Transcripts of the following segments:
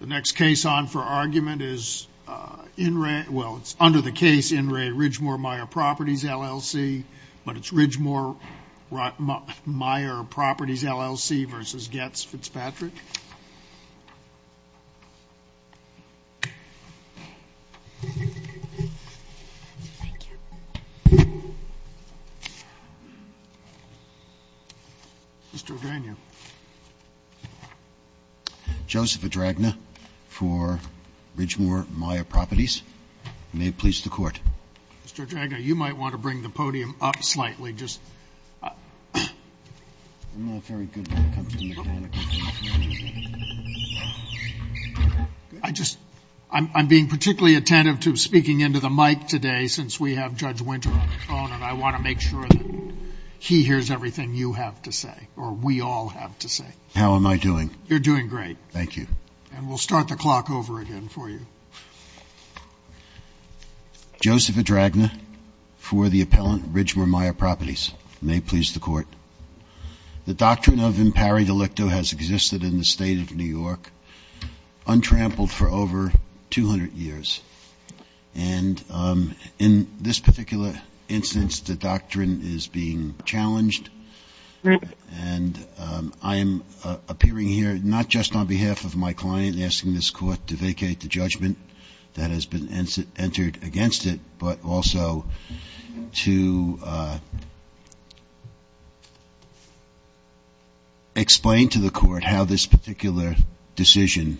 The next case on for argument is under the case In Re Ridgemour Meyer Properties, LLC, but it's Ridgemour Meyer Properties, LLC v. Goetz Fitzpatrick. Mr. O'drania. Joseph O'dragna for Ridgemour Meyer Properties. May it please the Court. Mr. O'dragna, you might want to bring the podium up slightly. I'm not very good with the company mechanics. I'm being particularly attentive to speaking into the mic today since we have Judge Winter on the phone, and I want to make sure that he hears everything you have to say or we all have to say. How am I doing? You're doing great. Thank you. And we'll start the clock over again for you. Joseph O'dragna for the appellant, Ridgemour Meyer Properties. May it please the Court. The doctrine of impari delicto has existed in the State of New York, untrampled for over 200 years, and in this particular instance, the doctrine is being challenged. And I am appearing here not just on behalf of my client asking this Court to vacate the judgment that has been entered against it, but also to explain to the Court how this particular decision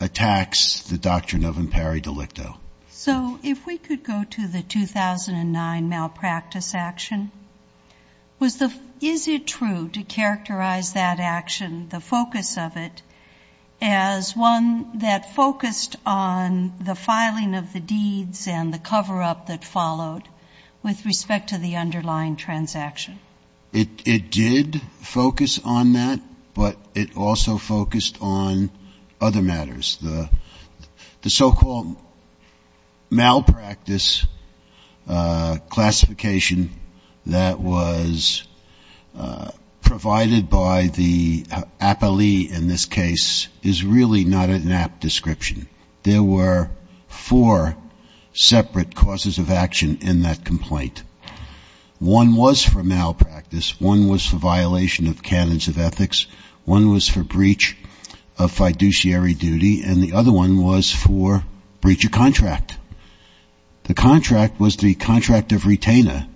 attacks the doctrine of impari delicto. So if we could go to the 2009 malpractice action, is it true to characterize that action, the focus of it, as one that focused on the filing of the deeds and the cover-up that followed with respect to the underlying transaction? It did focus on that, but it also focused on other matters. The so-called malpractice classification that was provided by the appellee in this case is really not an apt description. There were four separate causes of action in that complaint. One was for malpractice. One was for violation of canons of ethics. One was for breach of fiduciary duty. And the other one was for breach of contract. The contract was the contract of retainer.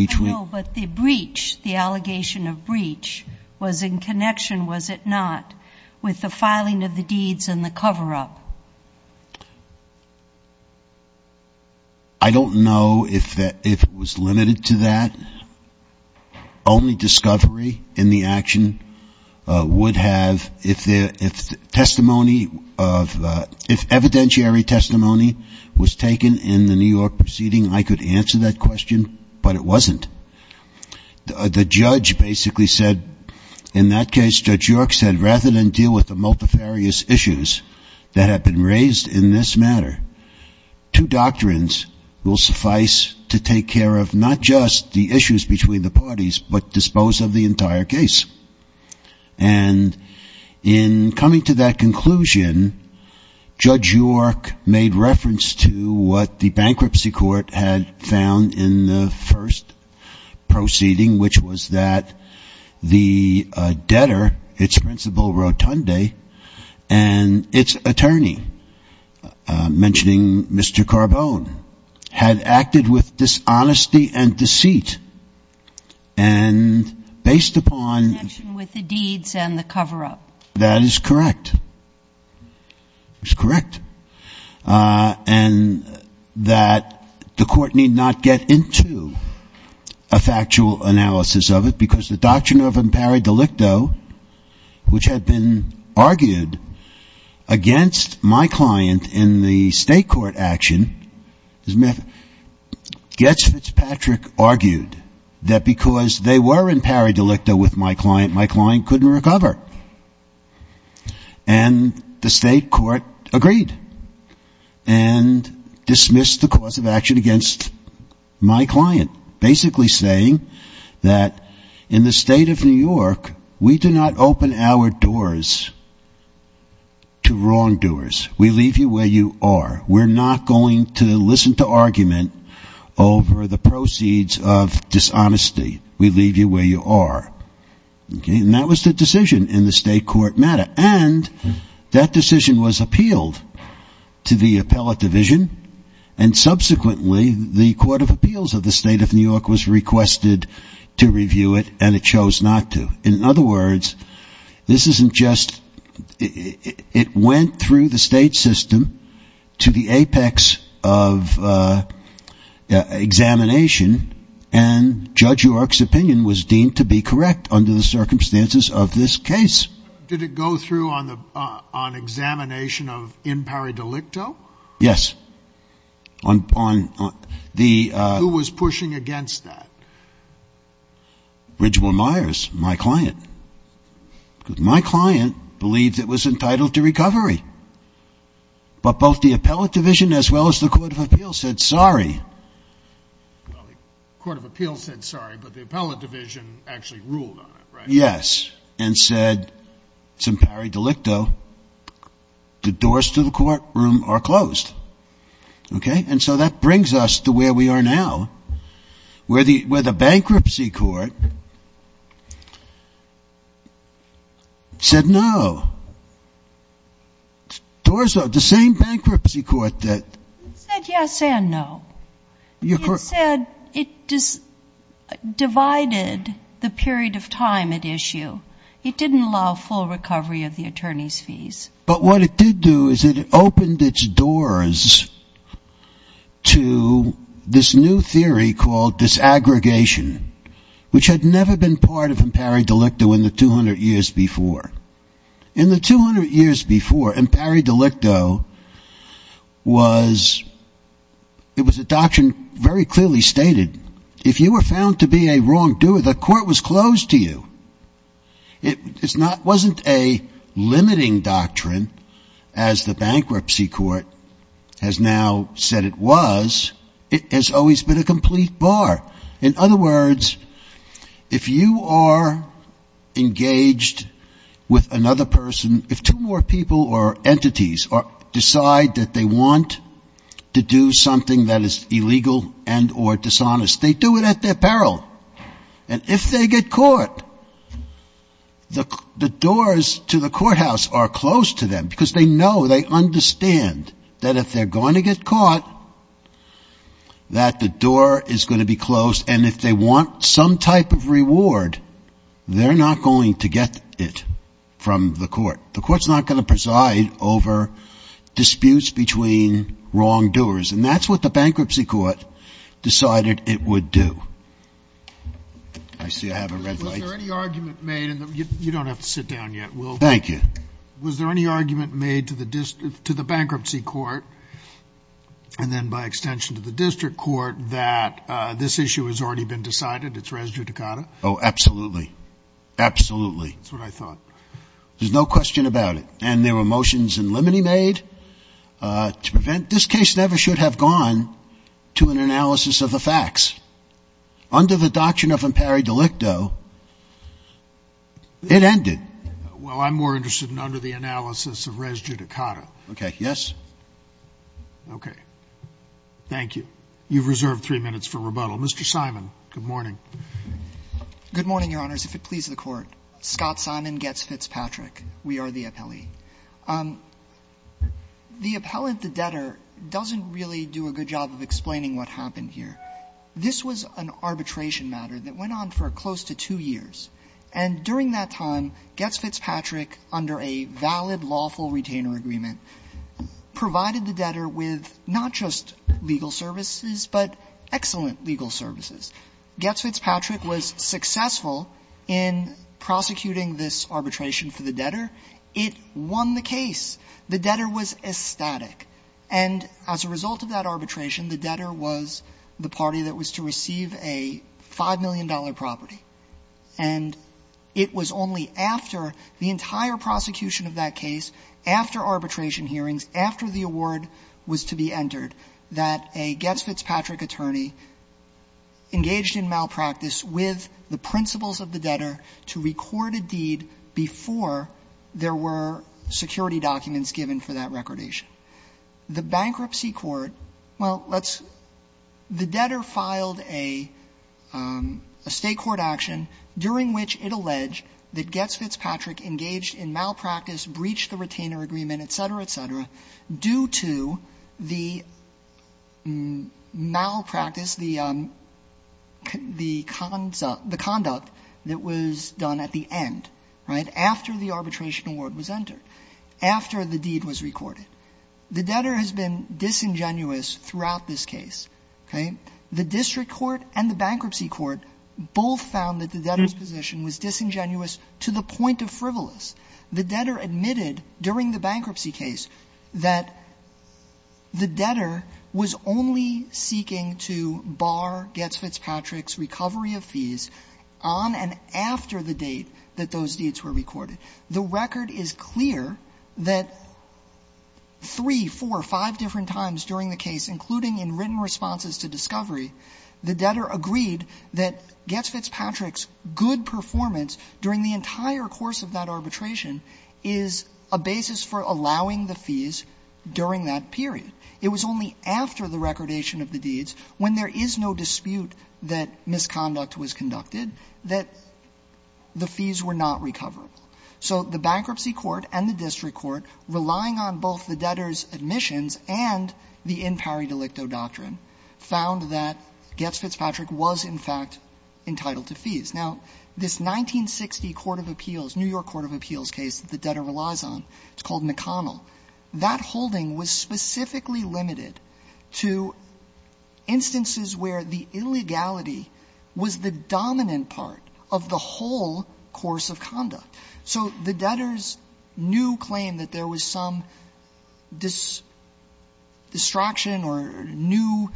I know, but the breach, the allegation of breach, was in connection, was it not, with the filing of the deeds and the cover-up? I don't know if it was limited to that. Only discovery in the action would have, if testimony of, if evidentiary testimony was taken in the New York proceeding, I could answer that question, but it wasn't. The judge basically said, in that case, Judge York said, rather than deal with the multifarious issues that have been raised in this matter, two doctrines will suffice to take care of not just the issues between the parties, but dispose of the entire case. And in coming to that conclusion, Judge York made reference to what the bankruptcy court had found in the first proceeding, which was that the debtor, its principal, Rotunde, and its attorney, mentioned in the first proceeding, Mr. Carbone, had acted with dishonesty and deceit. And based upon... In connection with the deeds and the cover-up. That is correct. It's correct. And that the court need not get into a factual analysis of it, because the doctrine of impari delicto, which had been argued against my client in the state of New York, in the state court action, Gets Fitzpatrick argued that because they were impari delicto with my client, my client couldn't recover. And the state court agreed, and dismissed the cause of action against my client, basically saying that in the state of New York, we do not open our doors to wrongdoers. We leave you where you are. We're not going to listen to argument over the proceeds of dishonesty. We leave you where you are. And that was the decision in the state court matter. And that decision was appealed to the appellate division, and subsequently the court of appeals of the state of New York was requested to review it, and it chose not to. In other words, this isn't just... It went through the state system to the apex of examination, and Judge York's opinion was deemed to be correct under the circumstances of this case. Did it go through on examination of impari delicto? Yes. Who was pushing against that? Ridgewell Myers, my client. Because my client believed it was entitled to recovery. But both the appellate division as well as the court of appeals said sorry. Well, the court of appeals said sorry, but the appellate division actually ruled on it, right? Yes. And said, impari delicto, the doors to the courtroom are closed. Okay? And so that brings us to where we are now, where the bankruptcy court said no. Doors are... The same bankruptcy court that... It said yes and no. It said it divided the period of time at issue. It didn't allow full recovery of the attorney's fees. But what it did do is it opened its doors to this new theory called disaggregation, which had never been part of impari delicto in the 200 years before. In the 200 years before, impari delicto was... It was a doctrine very clearly stated, if you were found to be a wrongdoer, the court was closed to you. It wasn't a limiting doctrine as the bankruptcy court has now said it was. It has always been a complete bar. In other words, if you are engaged with another person, if two more people or entities decide that they want to do something that is illegal and or dishonest, they do it at their peril. And if they get caught, the doors to the courthouse are closed to them because they know, they understand that if they're going to get caught, that the door is going to be closed. And if they want some type of reward, they're not going to get it from the court. The court's not going to preside over disputes between wrongdoers. And that's what the bankruptcy court decided it would do. I see I have a red light. Thank you. Was there any argument made to the bankruptcy court, and then by extension to the district court, that this issue has already been decided, it's res judicata? Oh, absolutely. Absolutely. That's what I thought. There's no question about it. And there were motions in limine made to prevent. This case never should have gone to an analysis of the facts. Under the doctrine of imperi delicto, it ended. Well, I'm more interested in under the analysis of res judicata. Okay. Yes. Okay. Thank you. You've reserved three minutes for rebuttal. Mr. Simon, good morning. Good morning, Your Honors. If it please the Court. Scott Simon, Getz Fitzpatrick. We are the appellee. The appellant, the debtor, doesn't really do a good job of explaining what happened here. This was an arbitration matter that went on for close to two years. And during that time, Getz Fitzpatrick, under a valid lawful retainer agreement, provided the debtor with not just legal services, but excellent legal services. Getz Fitzpatrick was successful in prosecuting this arbitration for the debtor. It won the case. The debtor was ecstatic. And as a result of that arbitration, the debtor was the party that was to receive a $5 million property. And it was only after the entire prosecution of that case, after arbitration hearings, after the award was to be entered, that a Getz Fitzpatrick attorney engaged in malpractice with the principles of the debtor to record a deed before there were security documents given for that recordation. The bankruptcy court, well, the debtor filed a State court action during which it alleged that Getz Fitzpatrick engaged in malpractice, breached the retainer agreement, et cetera, et cetera, due to the malpractice, the conduct that was done at the end, right, after the arbitration award was entered, after the deed was recorded. The debtor has been disingenuous throughout this case, okay? The district court and the bankruptcy court both found that the debtor's position was disingenuous to the point of frivolous. The debtor admitted during the bankruptcy case that the debtor was only seeking to bar Getz Fitzpatrick's recovery of fees on and after the date that those deeds were recorded. The record is clear that three, four, five different times during the case, including in written responses to discovery, the debtor agreed that Getz Fitzpatrick's good performance during the entire course of that arbitration is a basis for allowing the fees during that period. It was only after the recordation of the deeds, when there is no dispute that misconduct was conducted, that the fees were not recovered. So the bankruptcy court and the district court, relying on both the debtor's admissions and the in pari delicto doctrine, found that Getz Fitzpatrick was, in fact, entitled to fees. Now, this 1960 court of appeals, New York court of appeals case that the debtor relies on, it's called McConnell, that holding was specifically limited to instances where the illegality was the dominant part of the whole course of conduct. So the debtor's new claim that there was some distraction or new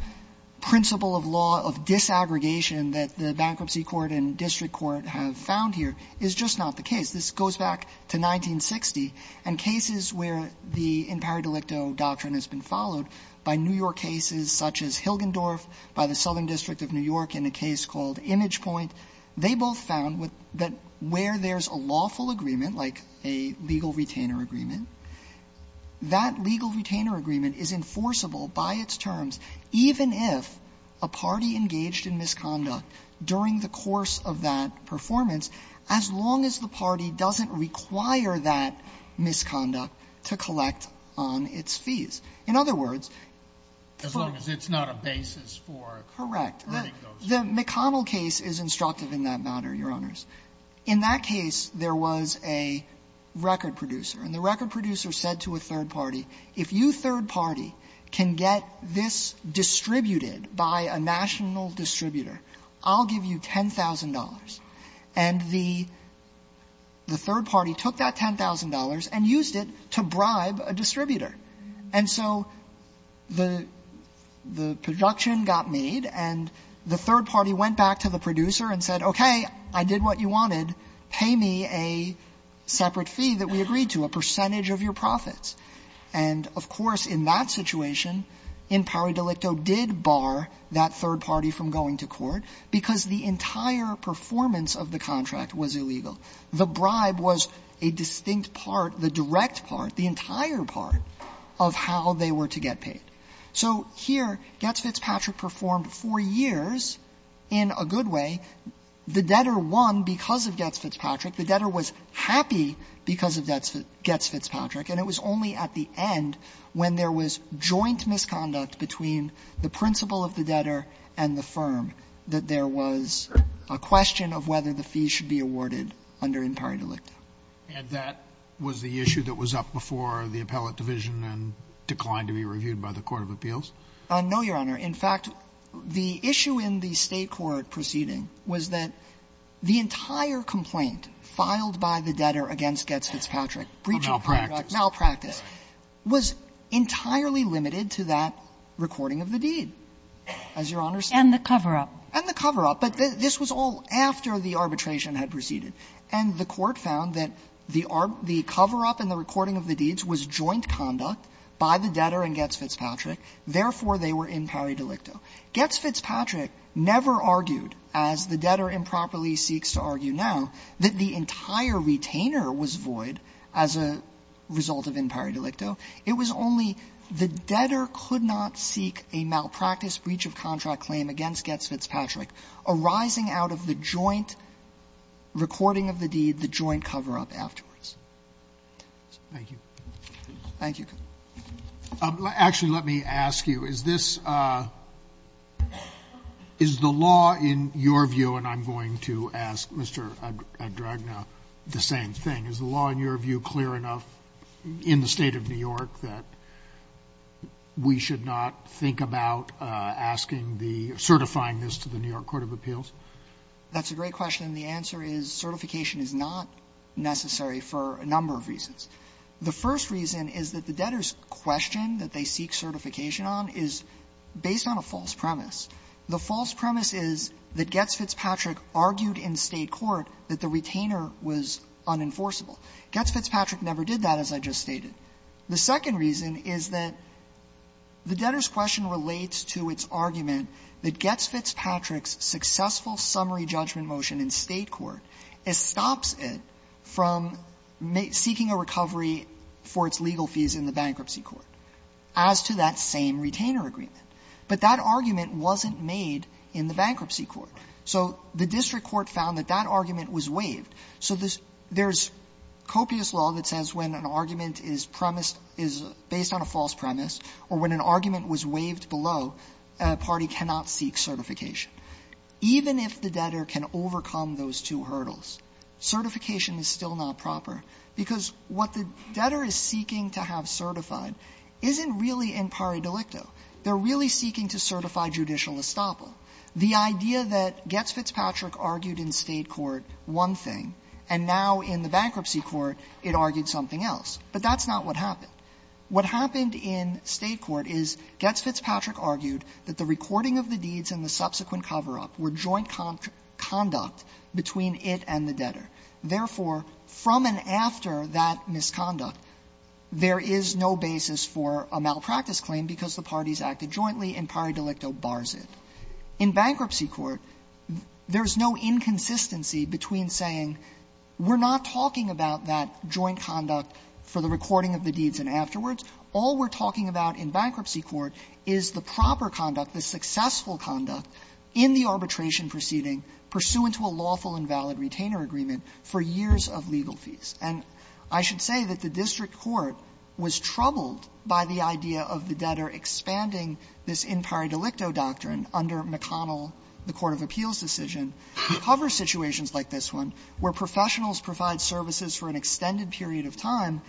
principle of law of disaggregation that the bankruptcy court and district court have found here is just not the case. This goes back to 1960, and cases where the in pari delicto doctrine has been followed by New York cases such as Hilgendorf, by the Southern District of New York in a case called Imagepoint, they both found that where there's a lawful agreement, like a legal retainer agreement, that legal retainer agreement is enforceable by its terms, even if a party engaged in misconduct during the course of that performance, as long as the party doesn't require that misconduct to collect on its fees. In other words, for the case of Getz Fitzpatrick, it's not a basis for letting The McConnell case is instructive in that matter, Your Honors. In that case, there was a record producer, and the record producer said to a third party, if you third party can get this distributed by a national distributor, I'll give you $10,000. And the third party took that $10,000 and used it to bribe a distributor. And so the production got made, and the third party went back to the producer and said, okay, I did what you wanted, pay me a separate fee that we agreed to, a percentage of your profits. And, of course, in that situation, in pari delicto did bar that third party from going to court, because the entire performance of the contract was illegal. The bribe was a distinct part, the direct part, the entire part of how they were to get paid. So here, Getz Fitzpatrick performed for years in a good way. The debtor won because of Getz Fitzpatrick. The debtor was happy because of Getz Fitzpatrick. And it was only at the end, when there was joint misconduct between the principal of the debtor and the firm, that there was a question of whether the fees should be awarded under in pari delicto. And that was the issue that was up before the appellate division and declined to be reviewed by the court of appeals? No, Your Honor. In fact, the issue in the State court proceeding was that the entire complaint filed by the debtor against Getz Fitzpatrick, breach of contract, malpractice, was entirely limited to that recording of the deed, as Your Honor said. And the cover-up. And the cover-up. But this was all after the arbitration had proceeded. And the court found that the cover-up in the recording of the deeds was joint conduct by the debtor and Getz Fitzpatrick. Therefore, they were in pari delicto. Getz Fitzpatrick never argued, as the debtor improperly seeks to argue now, that the entire retainer was void as a result of in pari delicto. It was only the debtor could not seek a malpractice breach of contract claim against Getz Fitzpatrick arising out of the joint recording of the deed, the joint cover-up afterwards. Thank you. Thank you. Actually, let me ask you, is this the law in your view, and I'm going to ask Mr. Adragna the same thing, is the law in your view clear enough in the State of New York that we should not think about asking the or certifying this to the New York Court of Appeals? That's a great question. The answer is certification is not necessary for a number of reasons. The first reason is that the debtor's question that they seek certification on is based on a false premise. The false premise is that Getz Fitzpatrick argued in State court that the retainer was unenforceable. Getz Fitzpatrick never did that, as I just stated. The second reason is that the debtor's question relates to its argument that Getz Fitzpatrick's successful summary judgment motion in State court stops it from seeking a recovery for its legal fees in the bankruptcy court as to that same retainer agreement. But that argument wasn't made in the bankruptcy court. So the district court found that that argument was waived. So there's copious law that says when an argument is premised, is based on a false premise, or when an argument was waived below, a party cannot seek certification. Even if the debtor can overcome those two hurdles, certification is still not proper, because what the debtor is seeking to have certified isn't really in pari delicto. They're really seeking to certify judicial estoppel. The idea that Getz Fitzpatrick argued in State court one thing, and now in the bankruptcy court it argued something else, but that's not what happened. What happened in State court is Getz Fitzpatrick argued that the recording of the deeds in the subsequent cover-up were joint conduct between it and the debtor. Therefore, from and after that misconduct, there is no basis for a malpractice claim because the parties acted jointly and pari delicto bars it. In bankruptcy court, there's no inconsistency between saying we're not talking about that joint conduct for the recording of the deeds and afterwards. All we're talking about in bankruptcy court is the proper conduct, the successful conduct in the arbitration proceeding pursuant to a lawful and valid retainer agreement for years of legal fees. And I should say that the district court was troubled by the idea of the debtor expanding this in pari delicto doctrine under McConnell, the court of appeals decision, to cover situations like this one, where professionals provide services for an extended period of time,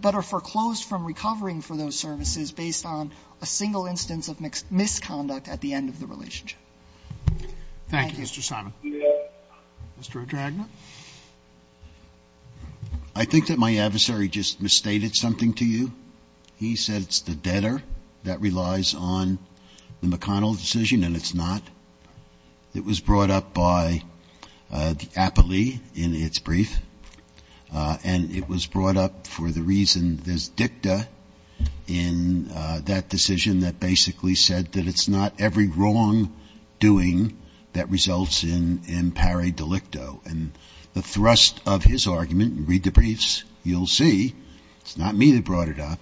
but are foreclosed from recovering for those services based on a single instance of misconduct at the end of the relationship. Thank you, Mr. Simon. Mr. O'Dragnin. I think that my adversary just misstated something to you. He said it's the debtor that relies on the McConnell decision and it's not. It was brought up by the appellee in its brief, and it was brought up for the reason there's dicta in that decision that basically said that it's not every wrongdoing that results in pari delicto. And the thrust of his argument, read the briefs, you'll see it's not me that brought it up.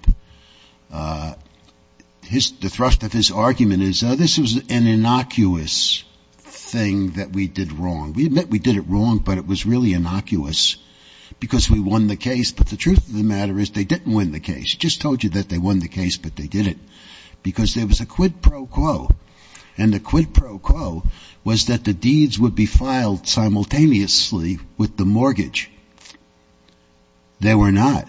The thrust of his argument is this was an innocuous thing that we did wrong. We admit we did it wrong, but it was really innocuous because we won the case. But the truth of the matter is they didn't win the case. Just told you that they won the case, but they didn't. Because there was a quid pro quo. And the quid pro quo was that the deeds would be filed simultaneously with the mortgage. They were not.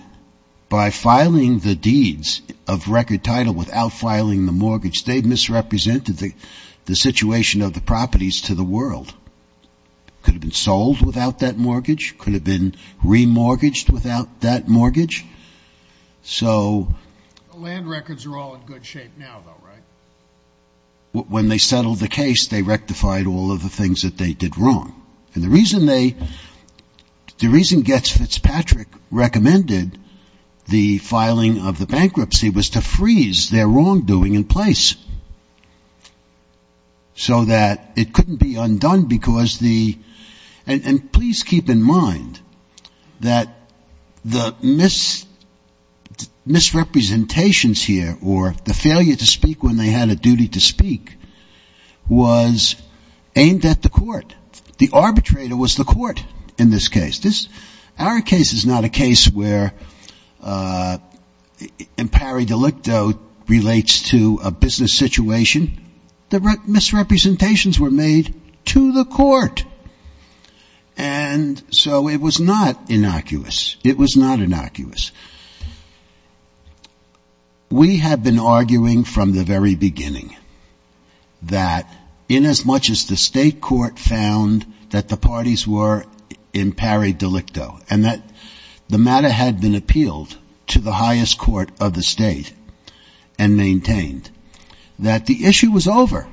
By filing the deeds of record title without filing the mortgage, they misrepresented the situation of the properties to the world. Could have been sold without that mortgage. Could have been remortgaged without that mortgage. So land records are all in good shape now, though, right? When they settled the case, they rectified all of the things that they did wrong. And the reason they, the reason Getz Fitzpatrick recommended the filing of the bankruptcy was to freeze their wrongdoing in place so that it couldn't be undone because the, and please keep in mind that the misrepresentations here or the failure to speak when they had a duty to speak was aimed at the court. The arbitrator was the court in this case. This, our case is not a case where impari delicto relates to a business situation. The misrepresentations were made to the court. And so it was not innocuous. It was not innocuous. We had been arguing from the very beginning that in as much as the state court found that the parties were impari delicto and that the matter had been appealed to the highest court of the state and maintained that the issue was over.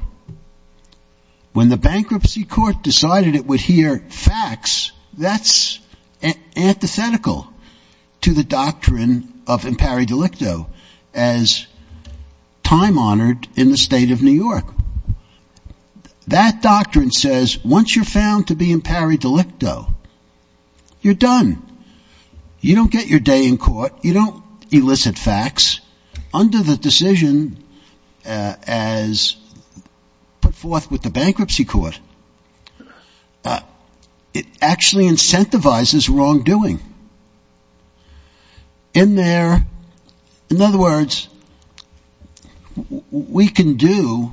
When the bankruptcy court decided it would hear facts, that's antithetical to the doctrine of impari delicto as time honored in the state of New York. That doctrine says once you're found to be impari delicto, you're done. You don't get your day in court. You don't elicit facts. Under the decision as put forth with the bankruptcy court, it actually incentivizes wrongdoing. In other words, we can do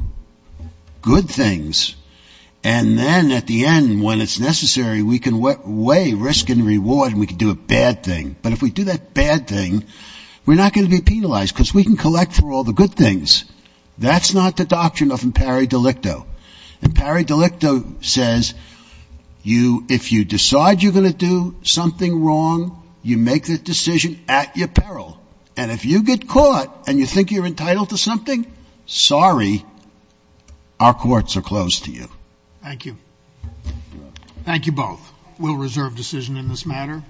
good things and then at the end when it's necessary, we can weigh risk and reward and we can do a bad thing. But if we do that bad thing, we're not going to be penalized because we can collect for all the good things. That's not the doctrine of impari delicto. Impari delicto says if you decide you're going to do something wrong, you make the decision at your peril. And if you get caught and you think you're entitled to something, sorry, our courts are closed to you. Thank you. Thank you both. We'll reserve decision in this matter.